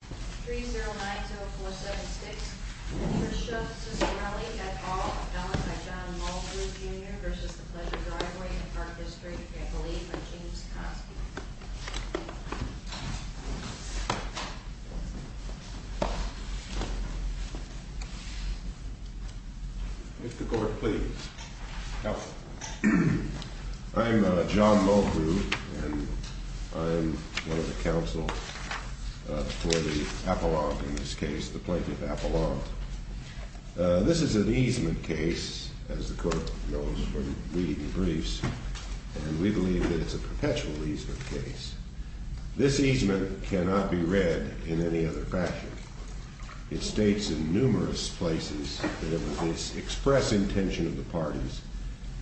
3090476 for Cicciarelli, et al., done by John Mulgrew, Jr. v. The Pleasure Driveway and Park District, I believe, by James Cosby. If the Court please. Counsel. I'm John Mulgrew, and I'm one of the counsel for the appellant in this case, the plaintiff appellant. This is an easement case, as the Court knows from reading the briefs, and we believe that it's a perpetual easement case. This easement cannot be read in any other fashion. It states in numerous places that it was the express intention of the parties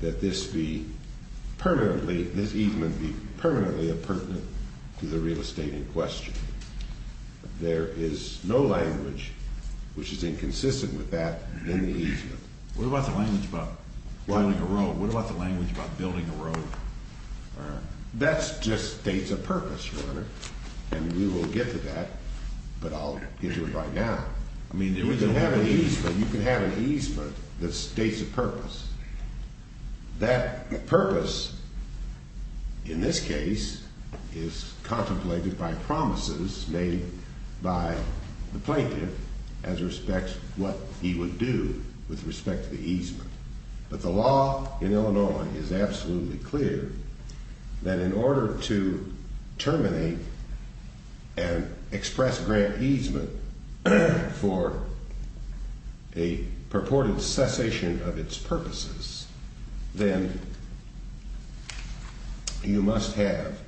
that this be permanently, this easement be permanently appurtenant to the real estate in question. There is no language which is inconsistent with that in the easement. What about the language about building a road? What about the language about building a road? That just states a purpose, Your Honor, and we will get to that, but I'll get to it right now. I mean, there is an order. You can have an easement that states a purpose. That purpose in this case is contemplated by promises made by the plaintiff as respects what he would do with respect to the easement. But the law in Illinois is absolutely clear that in order to terminate and express grant easement for a purported cessation of its purposes, then you must have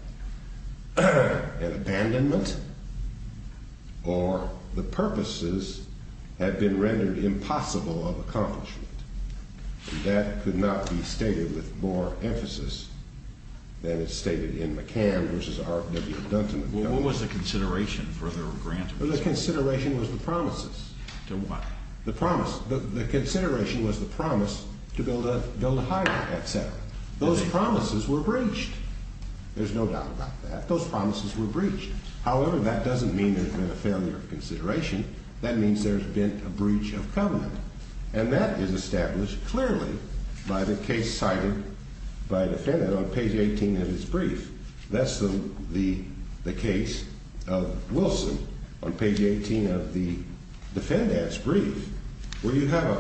an abandonment or the purposes have been rendered impossible of accomplishment. That could not be stated with more emphasis than is stated in McCann v. R. W. Dunton. Well, what was the consideration for the grant? The consideration was the promises. To what? The promise. The consideration was the promise to build a highway, et cetera. Those promises were breached. There's no doubt about that. Those promises were breached. However, that doesn't mean there's been a failure of consideration. That means there's been a breach of covenant. And that is established clearly by the case cited by defendant on page 18 of his brief. That's the case of Wilson on page 18 of the defendant's brief where you have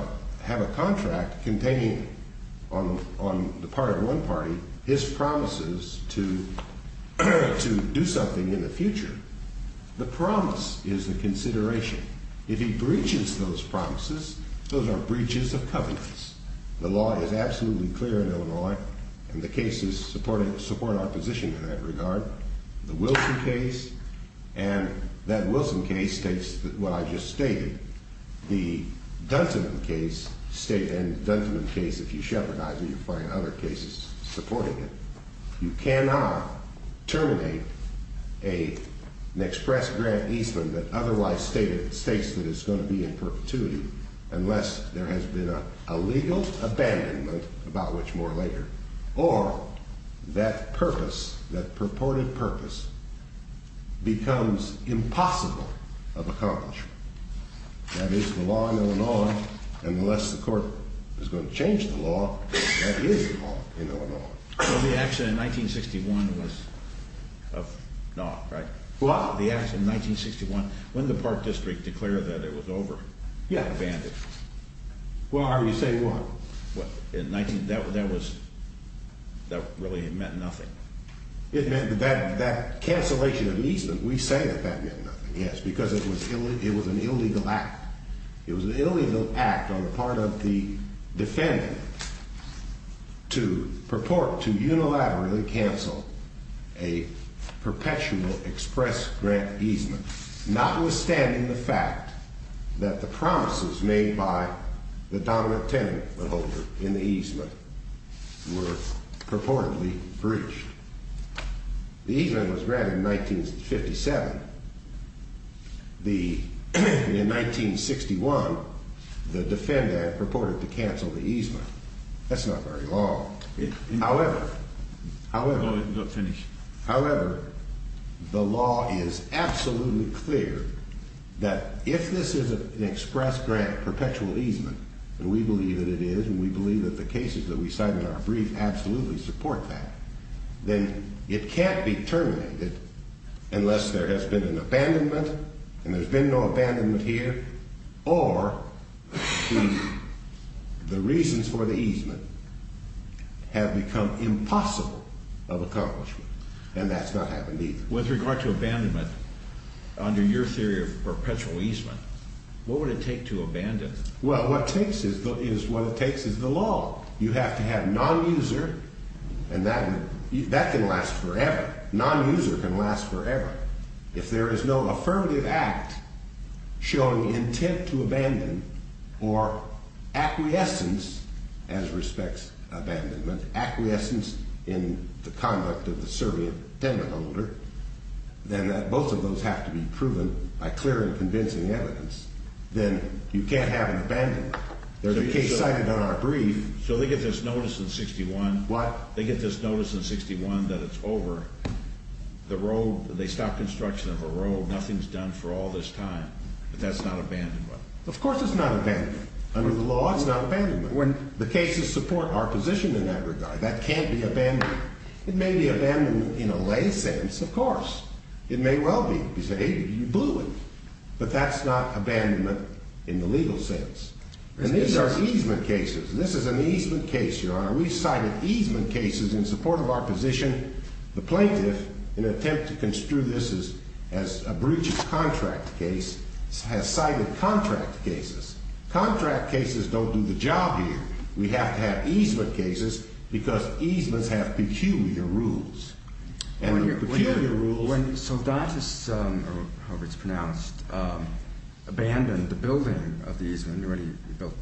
a contract containing on the part of one party his promises to do something in the future. The promise is the consideration. If he breaches those promises, those are breaches of covenants. The law is absolutely clear in Illinois, and the cases support our position in that regard. The Wilson case and that Wilson case takes what I just stated. The Dunton case and the Dunton case, if you shepherdize it, you find other cases supporting it. You cannot terminate an express grant easement that otherwise states that it's going to be in perpetuity unless there has been a legal abandonment, about which more later, or that purpose, that purported purpose, becomes impossible of accomplishment. That is the law in Illinois, and unless the court is going to change the law, that is the law in Illinois. Well, the action in 1961 was of naught, right? What? The action in 1961, when the Park District declared that it was over. Yeah. Abandoned. Well, I would say what? What? That really meant nothing. It meant that cancellation of easement, we say that that meant nothing, yes. Because it was an illegal act. It was an illegal act on the part of the defendant to purport to unilaterally cancel a perpetual express grant easement, notwithstanding the fact that the promises made by the dominant tenant in the easement were purportedly breached. The easement was granted in 1957. In 1961, the defendant purported to cancel the easement. That's not very long. However, however, however, the law is absolutely clear that if this is an express grant perpetual easement, and we believe that it is, and we believe that the cases that we cite in our brief absolutely support that, then it can't be terminated unless there has been an abandonment, and there's been no abandonment here, or the reasons for the easement have become impossible of accomplishment. And that's not happened either. With regard to abandonment, under your theory of perpetual easement, what would it take to abandon? Well, what it takes is the law. You have to have nonuser, and that can last forever. Nonuser can last forever. If there is no affirmative act showing intent to abandon or acquiescence as respects abandonment, acquiescence in the conduct of the servant tenant holder, then both of those have to be proven by clear and convincing evidence. Then you can't have an abandonment. There's a case cited on our brief. So they get this notice in 61. What? They get this notice in 61 that it's over. The road, they stop construction of a road. Nothing's done for all this time. But that's not abandonment. Of course it's not abandonment. Under the law, it's not abandonment. When the cases support our position in that regard, that can't be abandonment. It may be abandonment in a lay sense, of course. It may well be. You say, hey, you blew it. But that's not abandonment in the legal sense. And these are easement cases. This is an easement case, Your Honor. We cited easement cases in support of our position. The plaintiff, in an attempt to construe this as a breach of contract case, has cited contract cases. Contract cases don't do the job here. We have to have easement cases because easements have peculiar rules. Peculiar rules? When Soldantis, or however it's pronounced, abandoned the building of the easement already built.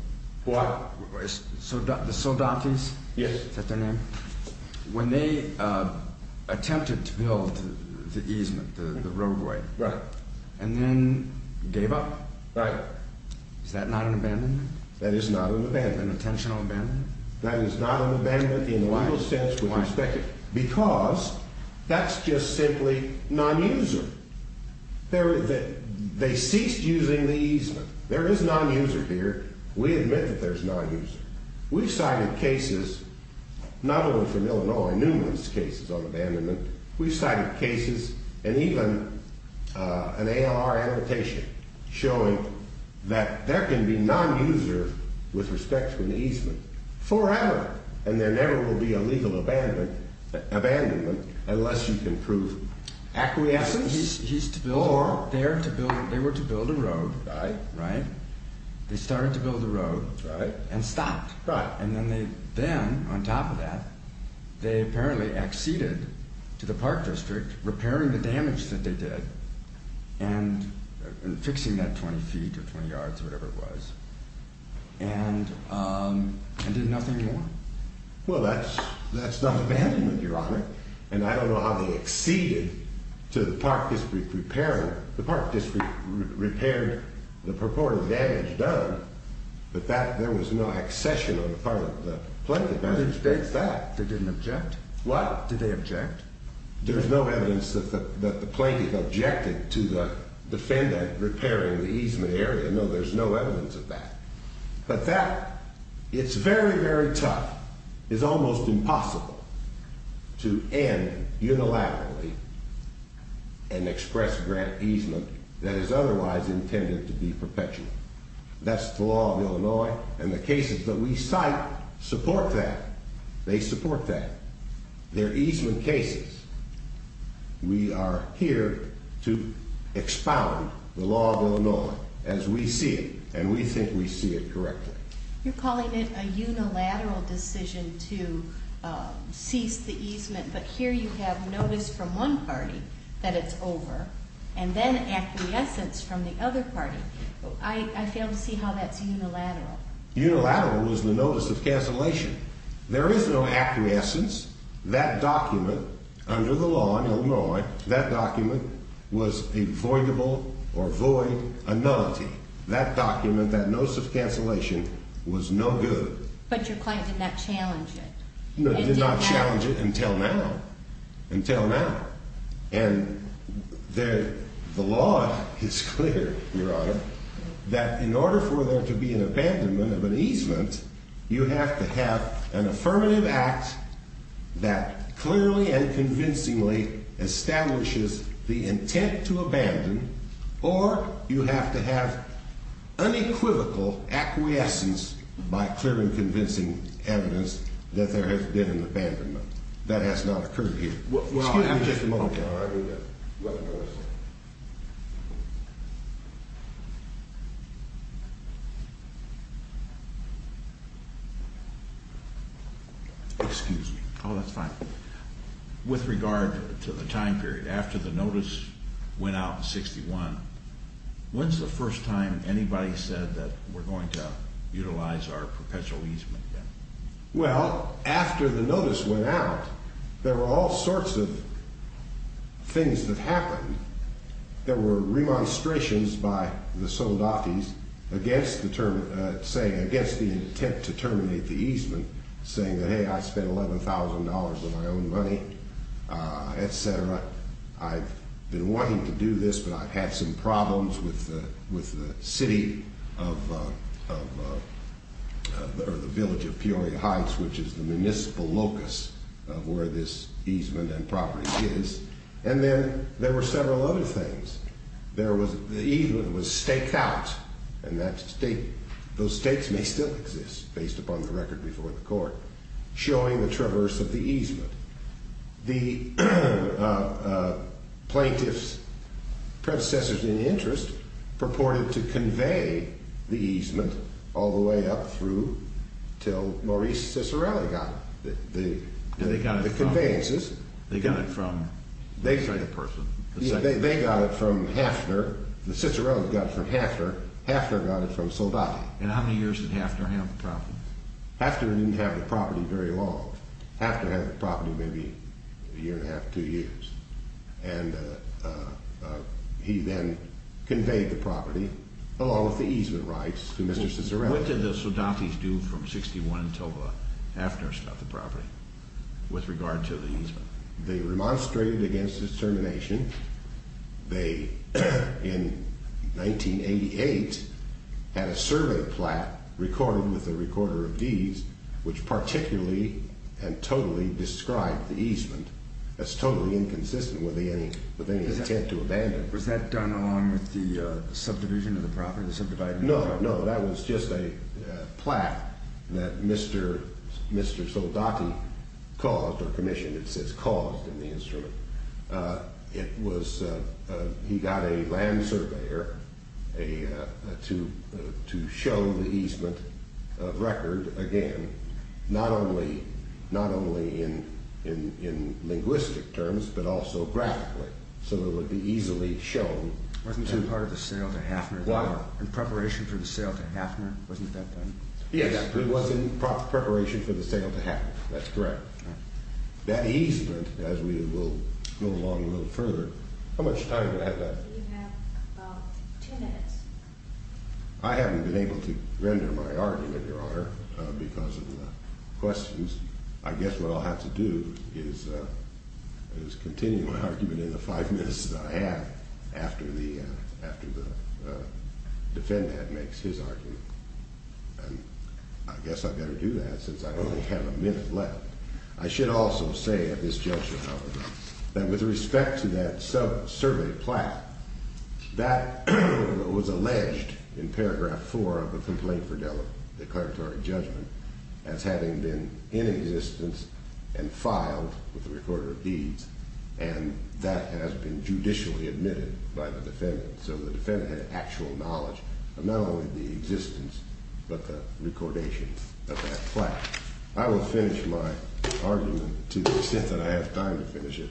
What? The Soldantis? Yes. Is that their name? When they attempted to build the easement, the roadway. Right. And then gave up? Right. Is that not an abandonment? That is not an abandonment. An intentional abandonment? That is not an abandonment in the legal sense with respect to it. That's just simply non-user. They ceased using the easement. There is non-user here. We admit that there's non-user. We've cited cases, not only from Illinois, numerous cases on abandonment. We've cited cases and even an ALR annotation showing that there can be non-user with respect to an easement forever. And there never will be a legal abandonment unless you can prove acquiescence or... They were to build a road. Right. Right? They started to build a road. Right. And stopped. Right. And then, on top of that, they apparently acceded to the park district, repairing the damage that they did, and fixing that 20 feet or 20 yards, whatever it was, and did nothing more. Well, that's not abandonment, Your Honor. And I don't know how they acceded to the park district repairing it. The park district repaired the purported damage done, but there was no accession on the part of the plaintiff. I didn't state that. They didn't object? What? Did they object? There's no evidence that the plaintiff objected to the defendant repairing the easement area. No, there's no evidence of that. But that, it's very, very tough. It's almost impossible to end unilaterally an express grant easement that is otherwise intended to be perpetual. That's the law of Illinois, and the cases that we cite support that. They support that. They're easement cases. We are here to expound the law of Illinois as we see it, and we think we see it correctly. You're calling it a unilateral decision to cease the easement, but here you have notice from one party that it's over, and then acquiescence from the other party. I fail to see how that's unilateral. Unilateral is the notice of cancellation. There is no acquiescence. That document under the law in Illinois, that document was a voidable or void anonymity. That document, that notice of cancellation, was no good. But your client did not challenge it. No, did not challenge it until now, until now. And the law is clear, Your Honor, that in order for there to be an abandonment of an easement, you have to have an affirmative act that clearly and convincingly establishes the intent to abandon, or you have to have unequivocal acquiescence by clearly convincing evidence that there has been an abandonment. That has not occurred here. Excuse me just a moment, Your Honor. Excuse me. Oh, that's fine. With regard to the time period, after the notice went out in 61, when's the first time anybody said that we're going to utilize our perpetual easement then? Well, after the notice went out, there were all sorts of things that happened. There were remonstrations by the Soldatis against the intent to terminate the easement, saying that, hey, I spent $11,000 of my own money, etc. I've been wanting to do this, but I've had some problems with the city or the village of Peoria Heights, which is the municipal locus of where this easement and property is. And then there were several other things. The easement was staked out, and those stakes may still exist based upon the record before the court, showing the traverse of the easement. The plaintiff's predecessors in interest purported to convey the easement all the way up through till Maurice Cicerelli got it. They got it from? The conveyances. They got it from? They got it from Hafner. The Cicerellis got it from Hafner. Hafner got it from Soldati. And how many years did Hafner have the property? Hafner didn't have the property very long. Hafner had the property maybe a year and a half, two years. And he then conveyed the property, along with the easement rights, to Mr. Cicerelli. What did the Soldatis do from 1961 until Hafner sold the property with regard to the easement? They remonstrated against his termination. They, in 1988, had a survey plat recorded with a recorder of these, which particularly and totally described the easement as totally inconsistent with any intent to abandon it. Was that done along with the subdivision of the property, the subdivision of the property? No, no, that was just a plat that Mr. Soldati caused or commissioned, it says caused in the instrument. He got a land surveyor to show the easement record again, not only in linguistic terms, but also graphically, so it would be easily shown. Wasn't that part of the sale to Hafner? What? In preparation for the sale to Hafner, wasn't that done? Yes, it was in preparation for the sale to Hafner, that's correct. That easement, as we will go along a little further, how much time do I have left? You have about two minutes. I haven't been able to render my argument, Your Honor, because of the questions. I guess what I'll have to do is continue my argument in the five minutes that I have after the defendant makes his argument. I guess I better do that since I only have a minute left. I should also say at this juncture, however, that with respect to that survey plat, that was alleged in paragraph four of the complaint for declaratory judgment as having been in existence and filed with the recorder of deeds, and that has been judicially admitted by the defendant, so the defendant had actual knowledge of not only the existence, but the recordation of that plat. I will finish my argument to the extent that I have time to finish it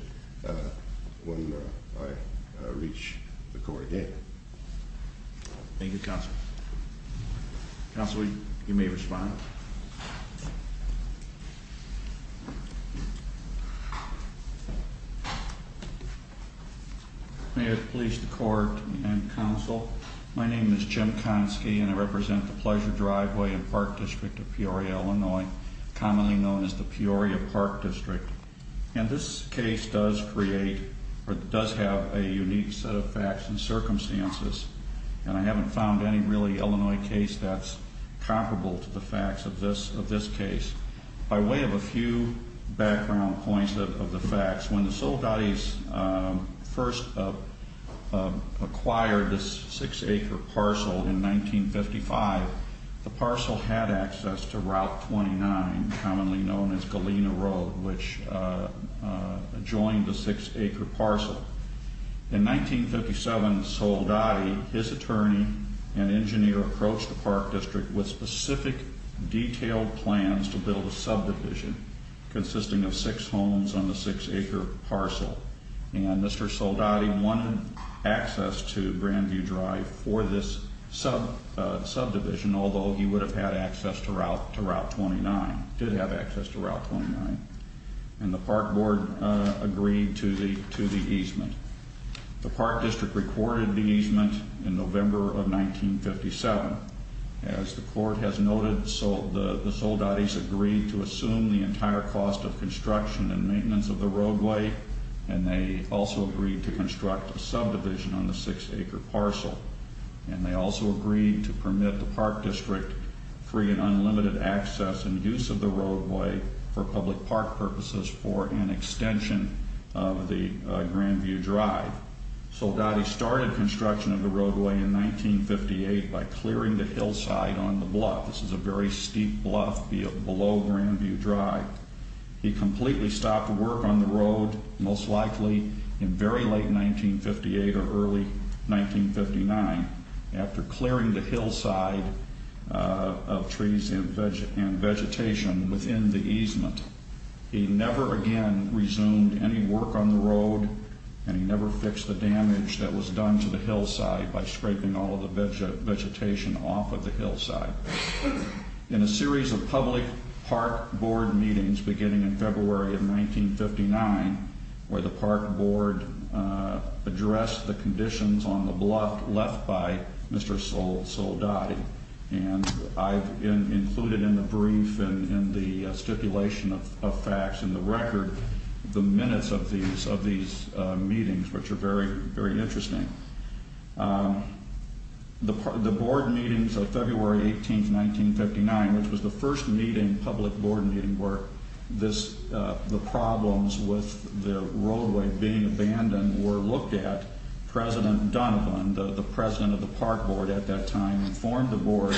when I reach the court again. Thank you, Counselor. Counselor, you may respond. May it please the Court and Counsel, my name is Jim Konski, and I represent the Pleasure Driveway and Park District of Peoria, Illinois, commonly known as the Peoria Park District. And this case does create or does have a unique set of facts and circumstances, and I haven't found any really Illinois case that's comparable to the facts of this case. By way of a few background points of the facts, when the Soldatis first acquired this six-acre parcel in 1955, the parcel had access to Route 29, commonly known as Galena Road, which joined the six-acre parcel. In 1957, Soldati, his attorney and engineer, approached the Park District with specific, detailed plans to build a subdivision consisting of six homes on the six-acre parcel. And Mr. Soldati wanted access to Grandview Drive for this subdivision, although he would have had access to Route 29, did have access to Route 29. And the Park Board agreed to the easement. The Park District recorded the easement in November of 1957. As the Court has noted, the Soldatis agreed to assume the entire cost of construction and maintenance of the roadway, and they also agreed to construct a subdivision on the six-acre parcel. And they also agreed to permit the Park District free and unlimited access and use of the roadway for public park purposes for an extension of the Grandview Drive. Soldati started construction of the roadway in 1958 by clearing the hillside on the bluff. This is a very steep bluff below Grandview Drive. He completely stopped work on the road, most likely in very late 1958 or early 1959, after clearing the hillside of trees and vegetation within the easement. He never again resumed any work on the road, and he never fixed the damage that was done to the hillside by scraping all of the vegetation off of the hillside. In a series of public park board meetings beginning in February of 1959, where the Park Board addressed the conditions on the bluff left by Mr. Soldati, and I've included in the brief and in the stipulation of facts in the record the minutes of these meetings, which are very, very interesting. The board meetings of February 18, 1959, which was the first meeting, public board meeting, where the problems with the roadway being abandoned were looked at. President Dunn, the president of the Park Board at that time, informed the board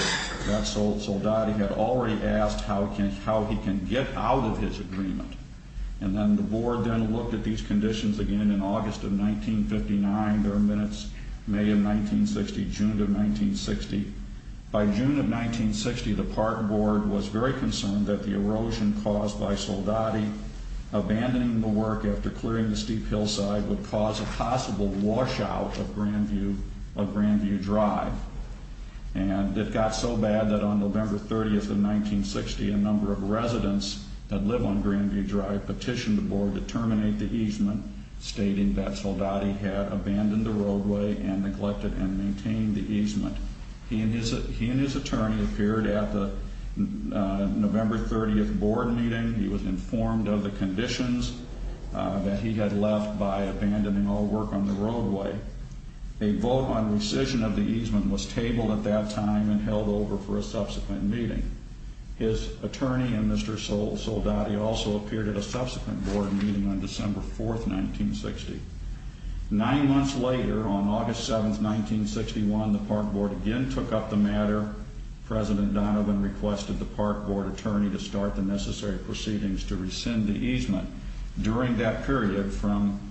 that Soldati had already asked how he can get out of his agreement. And then the board then looked at these conditions again in August of 1959. There are minutes May of 1960, June of 1960. By June of 1960, the Park Board was very concerned that the erosion caused by Soldati, abandoning the work after clearing the steep hillside, would cause a possible washout of Grandview Drive. And it got so bad that on November 30, 1960, a number of residents that live on Grandview Drive petitioned the board to terminate the easement, stating that Soldati had abandoned the roadway and neglected and maintained the easement. He and his attorney appeared at the November 30 board meeting. He was informed of the conditions that he had left by abandoning all work on the roadway. A vote on rescission of the easement was tabled at that time and held over for a subsequent meeting. His attorney and Mr. Soldati also appeared at a subsequent board meeting on December 4, 1960. Nine months later, on August 7, 1961, the Park Board again took up the matter. President Donovan requested the Park Board attorney to start the necessary proceedings to rescind the easement. During that period, from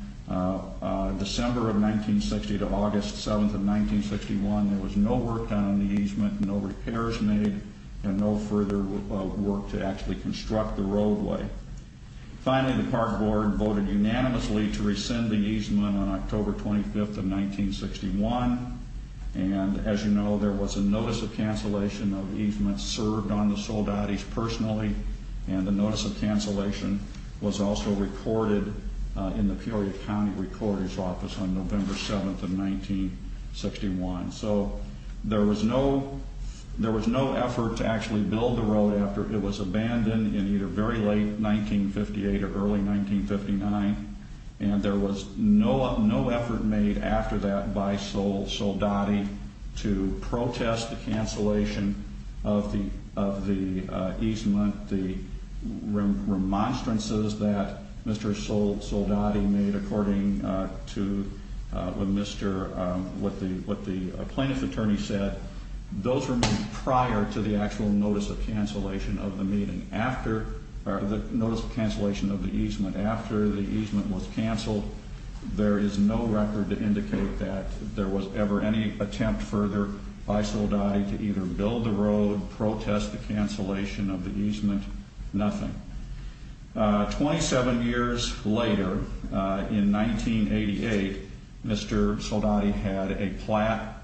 December of 1960 to August 7, 1961, there was no work done on the easement, no repairs made, and no further work to actually construct the roadway. Finally, the Park Board voted unanimously to rescind the easement on October 25, 1961. As you know, there was a notice of cancellation of easement served on the Soldatis personally. The notice of cancellation was also recorded in the Peoria County Recorder's Office on November 7, 1961. There was no effort to actually build the road after it was abandoned in either very late 1958 or early 1959. There was no effort made after that by Sol Soldati to protest the cancellation of the easement. The remonstrances that Mr. Soldati made according to what the plaintiff's attorney said, those were made prior to the actual notice of cancellation of the easement. After the easement was canceled, there is no record to indicate that there was ever any attempt further by Soldati to either build the road, protest the cancellation of the easement, nothing. Twenty-seven years later, in 1988, Mr. Soldati had a plat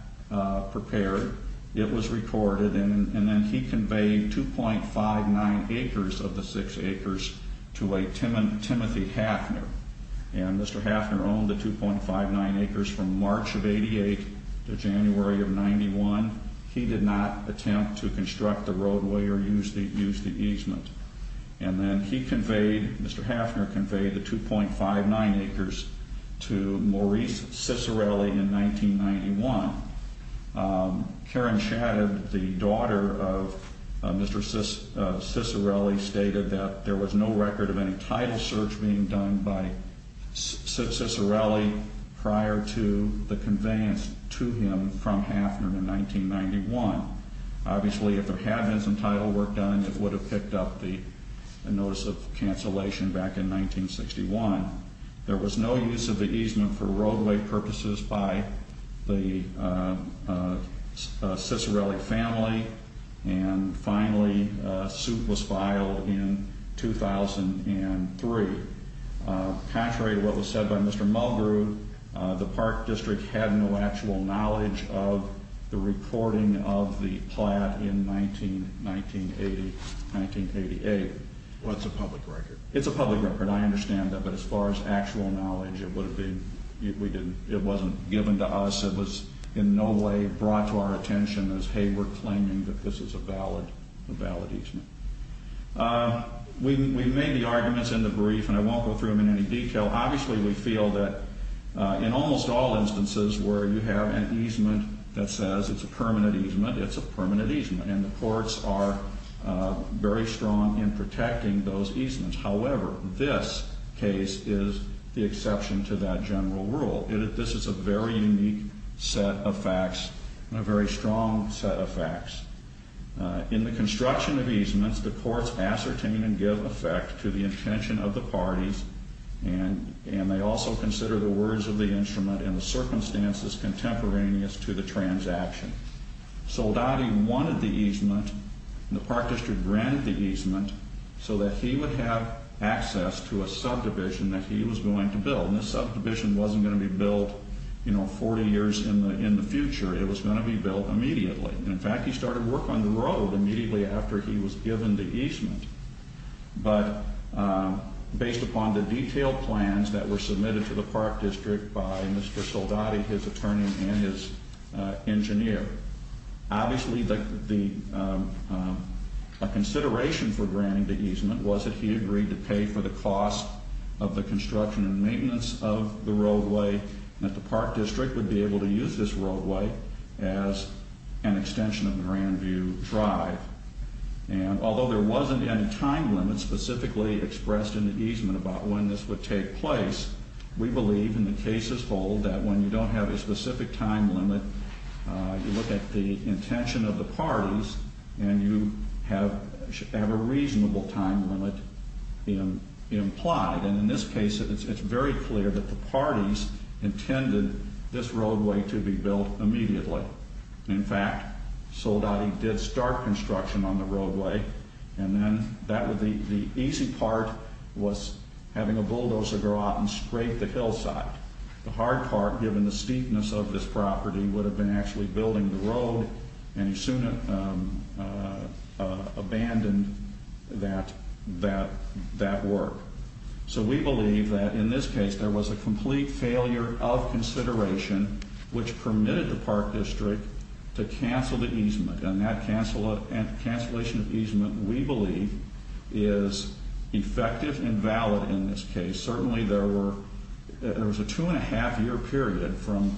prepared. It was recorded, and then he conveyed 2.59 acres of the six acres to a Timothy Hafner, and Mr. Hafner owned the 2.59 acres from March of 1988 to January of 1991. He did not attempt to construct the roadway or use the easement. And then he conveyed, Mr. Hafner conveyed the 2.59 acres to Maurice Cicirelli in 1991. Karen Shadid, the daughter of Mr. Cicirelli, stated that there was no record of any title search being done by Cicirelli prior to the conveyance to him from Hafner in 1991. Obviously, if there had been some title work done, it would have picked up the notice of cancellation back in 1961. There was no use of the easement for roadway purposes by the Cicirelli family, and finally, a suit was filed in 2003. Contrary to what was said by Mr. Mulgrew, the Park District had no actual knowledge of the reporting of the plat in 1980, 1988. Well, it's a public record. It's a public record. I understand that, but as far as actual knowledge, it would have been, it wasn't given to us. It was in no way brought to our attention as, hey, we're claiming that this is a valid easement. We made the arguments in the brief, and I won't go through them in any detail. Obviously, we feel that in almost all instances where you have an easement that says it's a permanent easement, it's a permanent easement, and the courts are very strong in protecting those easements. However, this case is the exception to that general rule. This is a very unique set of facts and a very strong set of facts. In the construction of easements, the courts ascertain and give effect to the intention of the parties, and they also consider the words of the instrument and the circumstances contemporaneous to the transaction. Soldati wanted the easement, and the Park District granted the easement, so that he would have access to a subdivision that he was going to build. And this subdivision wasn't going to be built, you know, 40 years in the future. It was going to be built immediately. In fact, he started work on the road immediately after he was given the easement. But based upon the detailed plans that were submitted to the Park District by Mr. Soldati, his attorney, and his engineer, obviously a consideration for granting the easement was that he agreed to pay for the cost of the construction and maintenance of the roadway, and that the Park District would be able to use this roadway as an extension of Grandview Drive. And although there wasn't any time limit specifically expressed in the easement about when this would take place, we believe, and the cases hold, that when you don't have a specific time limit, you look at the intention of the parties, and you have a reasonable time limit implied. And in this case, it's very clear that the parties intended this roadway to be built immediately. In fact, Soldati did start construction on the roadway, and then the easy part was having a bulldozer go out and scrape the hillside. The hard part, given the steepness of this property, would have been actually building the road, and he soon abandoned that work. So we believe that in this case, there was a complete failure of consideration which permitted the Park District to cancel the easement. And that cancellation of easement, we believe, is effective and valid in this case. Certainly, there was a two-and-a-half-year period from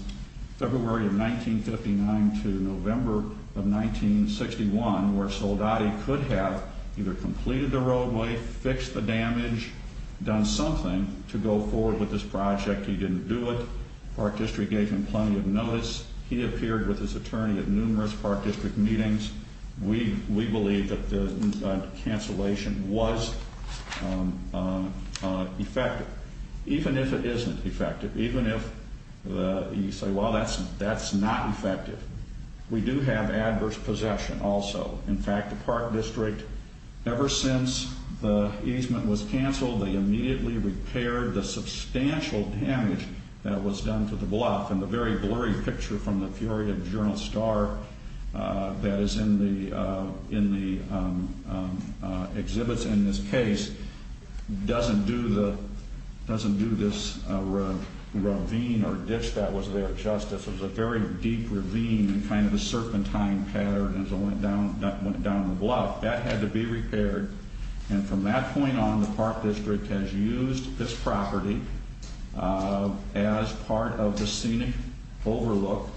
February of 1959 to November of 1961 where Soldati could have either completed the roadway, fixed the damage, done something to go forward with this project. He didn't do it. Park District gave him plenty of notice. He appeared with his attorney at numerous Park District meetings. We believe that the cancellation was effective, even if it isn't effective, even if you say, well, that's not effective. We do have adverse possession also. In fact, the Park District, ever since the easement was canceled, they immediately repaired the substantial damage that was done to the bluff. And the very blurry picture from the Fury of General Starr that is in the exhibits in this case doesn't do this ravine or ditch that was there justice. It was a very deep ravine and kind of a serpentine pattern as it went down the bluff. That had to be repaired. And from that point on, the Park District has used this property as part of the scenic overlook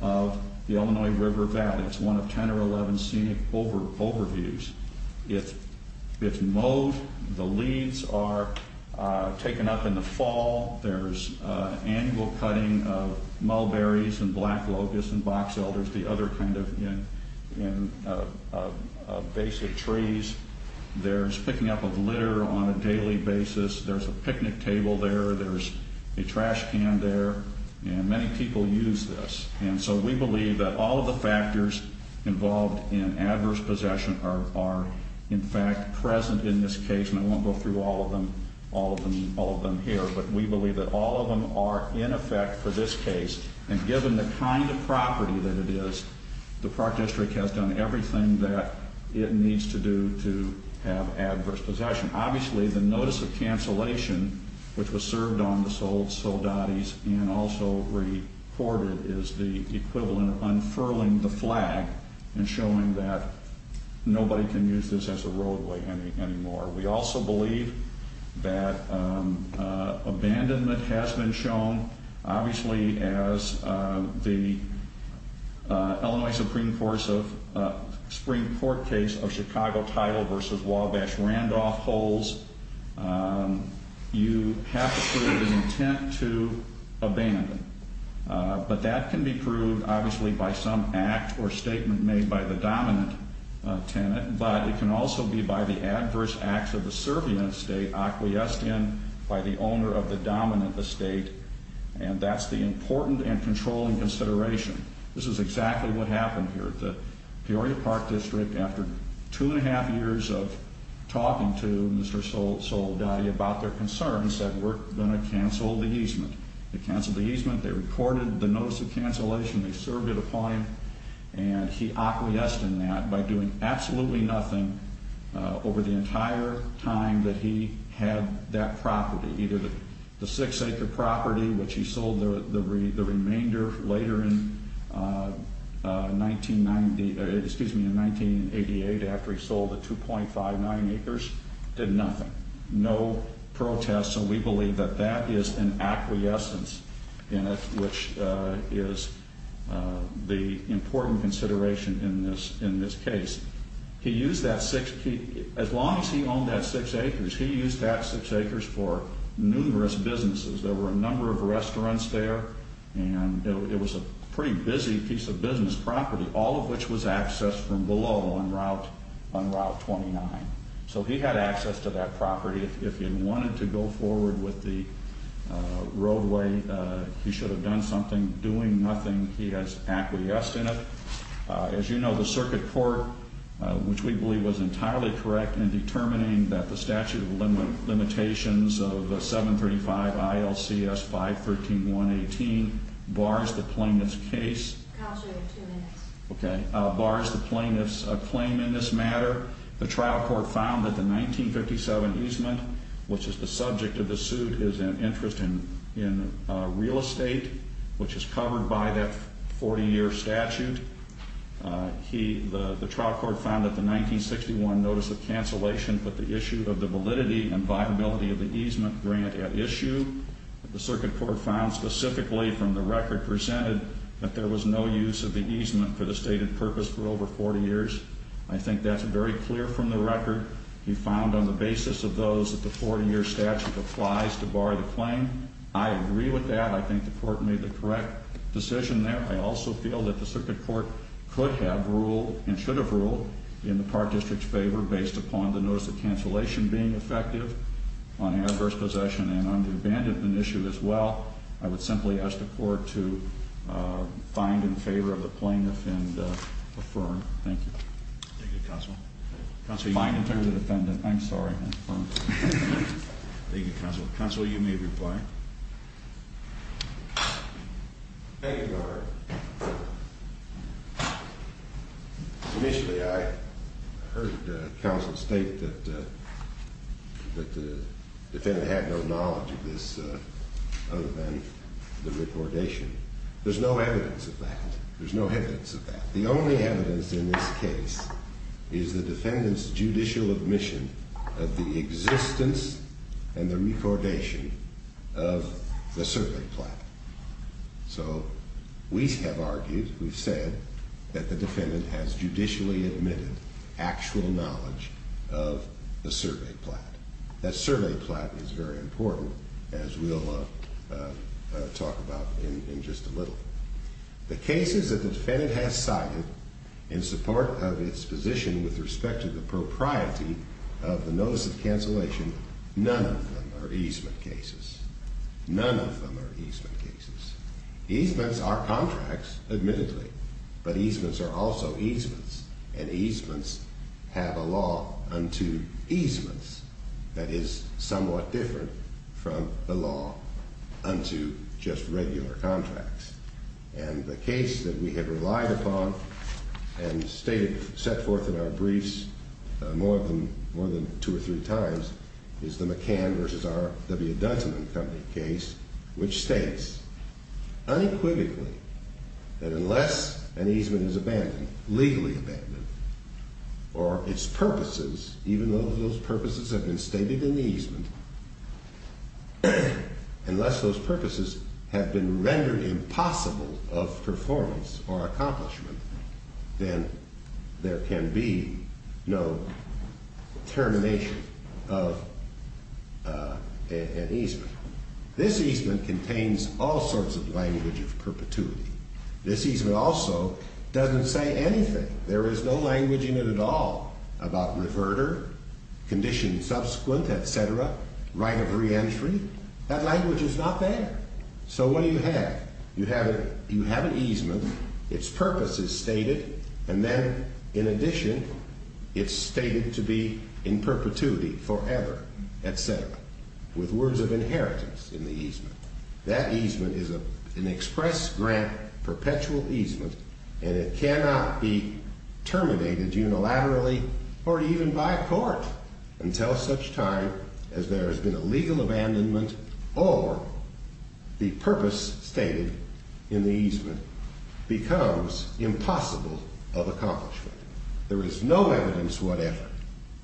of the Illinois River Valley. It's one of 10 or 11 scenic overviews. It's mowed. The leaves are taken up in the fall. There's annual cutting of mulberries and black locusts and box elders, the other kind of basic trees. There's picking up of litter on a daily basis. There's a picnic table there. There's a trash can there. And many people use this. And so we believe that all of the factors involved in adverse possession are, in fact, present in this case. And I won't go through all of them here. But we believe that all of them are in effect for this case. And given the kind of property that it is, the Park District has done everything that it needs to do to have adverse possession. Obviously, the notice of cancellation, which was served on the Soldadis and also recorded, is the equivalent of unfurling the flag and showing that nobody can use this as a roadway anymore. We also believe that abandonment has been shown. Obviously, as the Illinois Supreme Court case of Chicago title versus Wabash-Randolph holds, you have to prove an intent to abandon. But that can be proved, obviously, by some act or statement made by the dominant tenant. But it can also be by the adverse acts of the servient state acquiesced in by the owner of the dominant estate. And that's the important and controlling consideration. This is exactly what happened here. The Peoria Park District, after two and a half years of talking to Mr. Soldadi about their concerns, said we're going to cancel the easement. They canceled the easement. They recorded the notice of cancellation. They served it a point. And he acquiesced in that by doing absolutely nothing over the entire time that he had that property. Either the six-acre property, which he sold the remainder later in 1988 after he sold the 2.59 acres, did nothing. No protests. And so we believe that that is an acquiescence in it, which is the important consideration in this case. As long as he owned that six acres, he used that six acres for numerous businesses. There were a number of restaurants there. And it was a pretty busy piece of business property, all of which was accessed from below on Route 29. So he had access to that property. If he had wanted to go forward with the roadway, he should have done something. Doing nothing, he has acquiesced in it. As you know, the circuit court, which we believe was entirely correct in determining that the statute of limitations of the 735 ILCS 513.118 bars the plaintiff's case. Counselor, two minutes. Okay. Bars the plaintiff's claim in this matter. The trial court found that the 1957 easement, which is the subject of the suit, is an interest in real estate, which is covered by that 40-year statute. The trial court found that the 1961 notice of cancellation put the issue of the validity and viability of the easement grant at issue. The circuit court found specifically from the record presented that there was no use of the easement for the stated purpose for over 40 years. I think that's very clear from the record. He found on the basis of those that the 40-year statute applies to bar the claim. I agree with that. I think the court made the correct decision there. I also feel that the circuit court could have ruled and should have ruled in the park district's favor based upon the notice of cancellation being effective on adverse possession and on the abandonment issue as well. I would simply ask the court to find in favor of the plaintiff and affirm. Thank you. Thank you, Counsel. Counsel, you may return to the defendant. I'm sorry. Thank you, Counsel. Counsel, you may reply. Thank you, Your Honor. Initially, I heard Counsel state that the defendant had no knowledge of this other than the recordation. There's no evidence of that. There's no evidence of that. The only evidence in this case is the defendant's judicial admission of the existence and the recordation of the survey plat. So we have argued, we've said, that the defendant has judicially admitted actual knowledge of the survey plat. That survey plat is very important, as we'll talk about in just a little. The cases that the defendant has cited in support of its position with respect to the propriety of the notice of cancellation, none of them are easement cases. None of them are easement cases. Easements are contracts, admittedly, but easements are also easements, and easements have a law unto easements that is somewhat different from the law unto just regular contracts. And the case that we have relied upon and stated, set forth in our briefs, more than two or three times, is the McCann v. R. W. Duncan and Company case, which states unequivocally that unless an easement is abandoned, legally abandoned, or its purposes, even though those purposes have been stated in the easement, unless those purposes have been rendered impossible of performance or accomplishment, then there can be no termination of an easement. This easement contains all sorts of language of perpetuity. This easement also doesn't say anything. There is no language in it at all about reverter, condition subsequent, et cetera, right of reentry. That language is not there. So what do you have? You have an easement, its purpose is stated, and then, in addition, it's stated to be in perpetuity forever, et cetera, with words of inheritance in the easement. That easement is an express grant perpetual easement, and it cannot be terminated unilaterally or even by a court until such time as there has been a legal abandonment or the purpose stated in the easement becomes impossible of accomplishment. There is no evidence whatever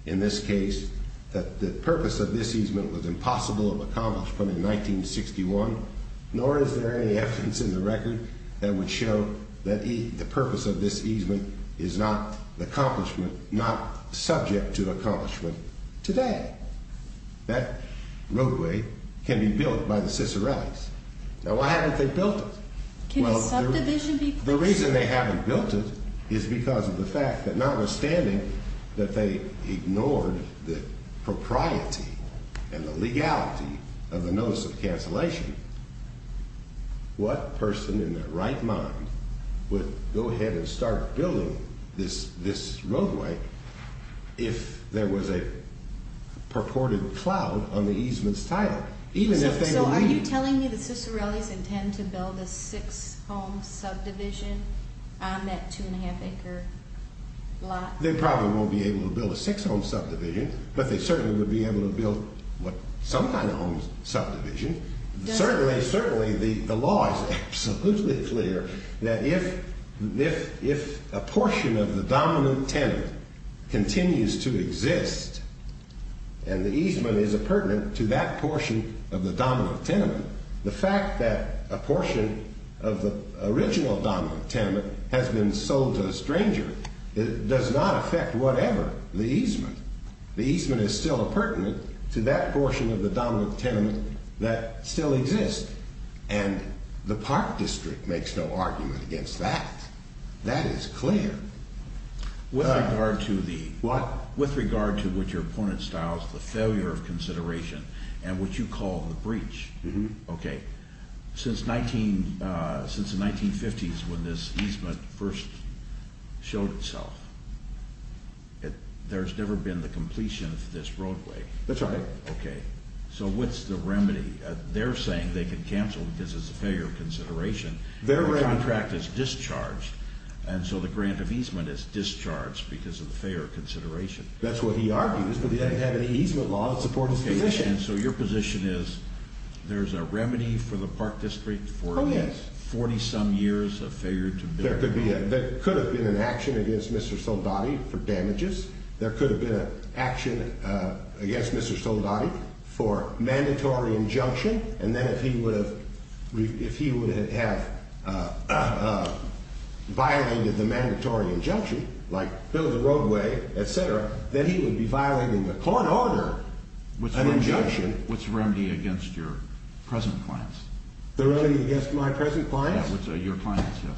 in this case that the purpose of this easement was impossible of accomplishment in 1961, nor is there any evidence in the record that would show that the purpose of this easement is not the accomplishment, not subject to accomplishment today. That roadway can be built by the Cicerellis. Now, why haven't they built it? Can a subdivision be placed? The reason they haven't built it is because of the fact that notwithstanding that they ignored the propriety and the legality of the notice of cancellation, what person in their right mind would go ahead and start building this roadway if there was a purported cloud on the easement's title? So are you telling me the Cicerellis intend to build a six-home subdivision on that two-and-a-half-acre lot? They probably won't be able to build a six-home subdivision, but they certainly would be able to build some kind of home subdivision. Certainly, certainly the law is absolutely clear that if a portion of the dominant tenement continues to exist and the easement is appurtenant to that portion of the dominant tenement, the fact that a portion of the original dominant tenement has been sold to a stranger does not affect whatever the easement. The easement is still appurtenant to that portion of the dominant tenement that still exists, and the Park District makes no argument against that. That is clear. With regard to what your opponent styles as the failure of consideration and what you call the breach, since the 1950s when this easement first showed itself, there's never been the completion of this roadway. That's right. Okay. So what's the remedy? They're saying they can cancel because it's a failure of consideration. The contract is discharged, and so the grant of easement is discharged because of the failure of consideration. That's what he argues, but he doesn't have any easement law to support his position. And so your position is there's a remedy for the Park District for 40-some years of failure to build? There could have been an action against Mr. Soldati for damages. There could have been an action against Mr. Soldati for mandatory injunction. And then if he would have violated the mandatory injunction, like build the roadway, et cetera, then he would be violating the court order, an injunction. What's the remedy against your present clients? The remedy against my present clients? Your clients, yes.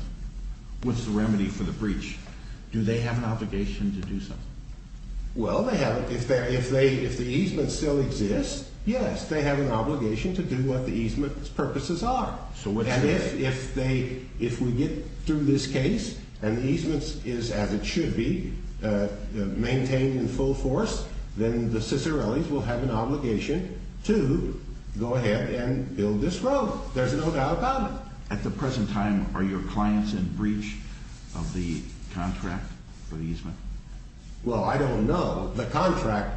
What's the remedy for the breach? Do they have an obligation to do something? Well, if the easement still exists, yes, they have an obligation to do what the easement's purposes are. And if we get through this case and the easement is as it should be, maintained in full force, then the Cicerellis will have an obligation to go ahead and build this road. There's no doubt about it. At the present time, are your clients in breach of the contract for the easement? Well, I don't know. The contract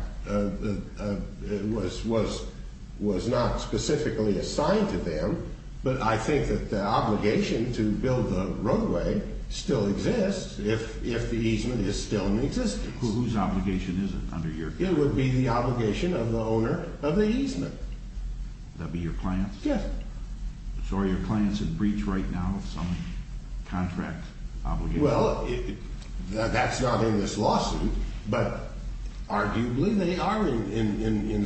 was not specifically assigned to them, but I think that the obligation to build the roadway still exists if the easement is still in existence. Whose obligation is it under your view? It would be the obligation of the owner of the easement. That would be your clients? Yes. So are your clients in breach right now of some contract obligation? Well, that's not in this lawsuit, but arguably they are in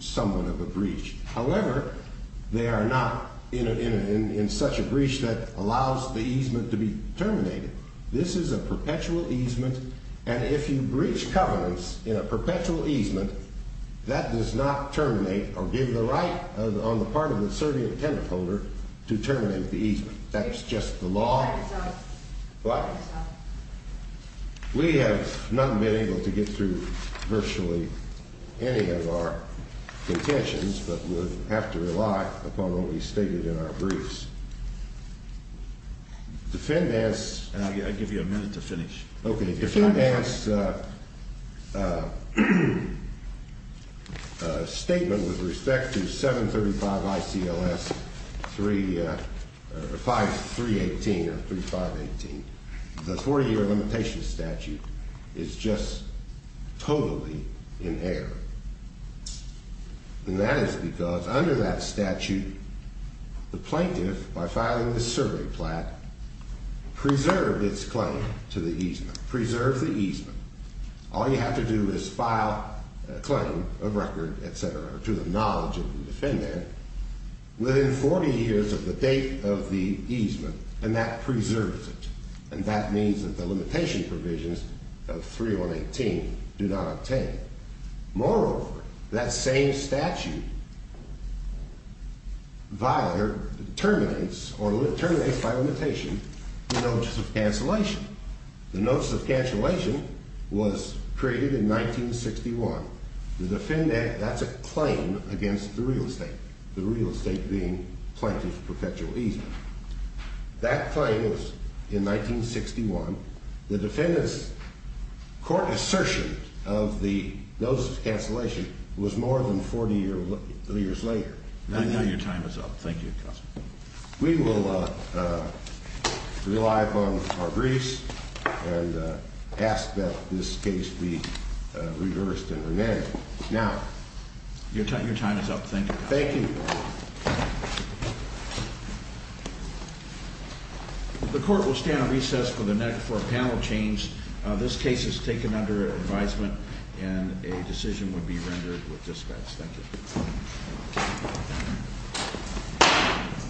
somewhat of a breach. However, they are not in such a breach that allows the easement to be terminated. This is a perpetual easement, and if you breach covenants in a perpetual easement, that does not terminate or give the right on the part of the serving tenant holder to terminate the easement. That's just the law. But we have not been able to get through virtually any of our contentions, but would have to rely upon what we stated in our briefs. I'll give you a minute to finish. Okay. The defendant's statement with respect to 735 ICLS 318 or 3518, the 40-year limitation statute, is just totally in error. And that is because under that statute, the plaintiff, by filing the survey plat, preserved its claim to the easement. Preserved the easement. All you have to do is file a claim, a record, et cetera, to the knowledge of the defendant within 40 years of the date of the easement, and that preserves it. And that means that the limitation provisions of 318 do not obtain. Moreover, that same statute violates or terminates or terminates by limitation the notice of cancellation. The notice of cancellation was created in 1961. That's a claim against the real estate, the real estate being plaintiff's perpetual easement. That claim was in 1961. The defendant's court assertion of the notice of cancellation was more than 40 years later. Now your time is up. Thank you, counsel. We will rely upon our briefs and ask that this case be reversed and remanded. Now. Your time is up. Thank you. Thank you. The court will stand on recess for a panel change. This case is taken under advisement, and a decision will be rendered with dispense. Thank you.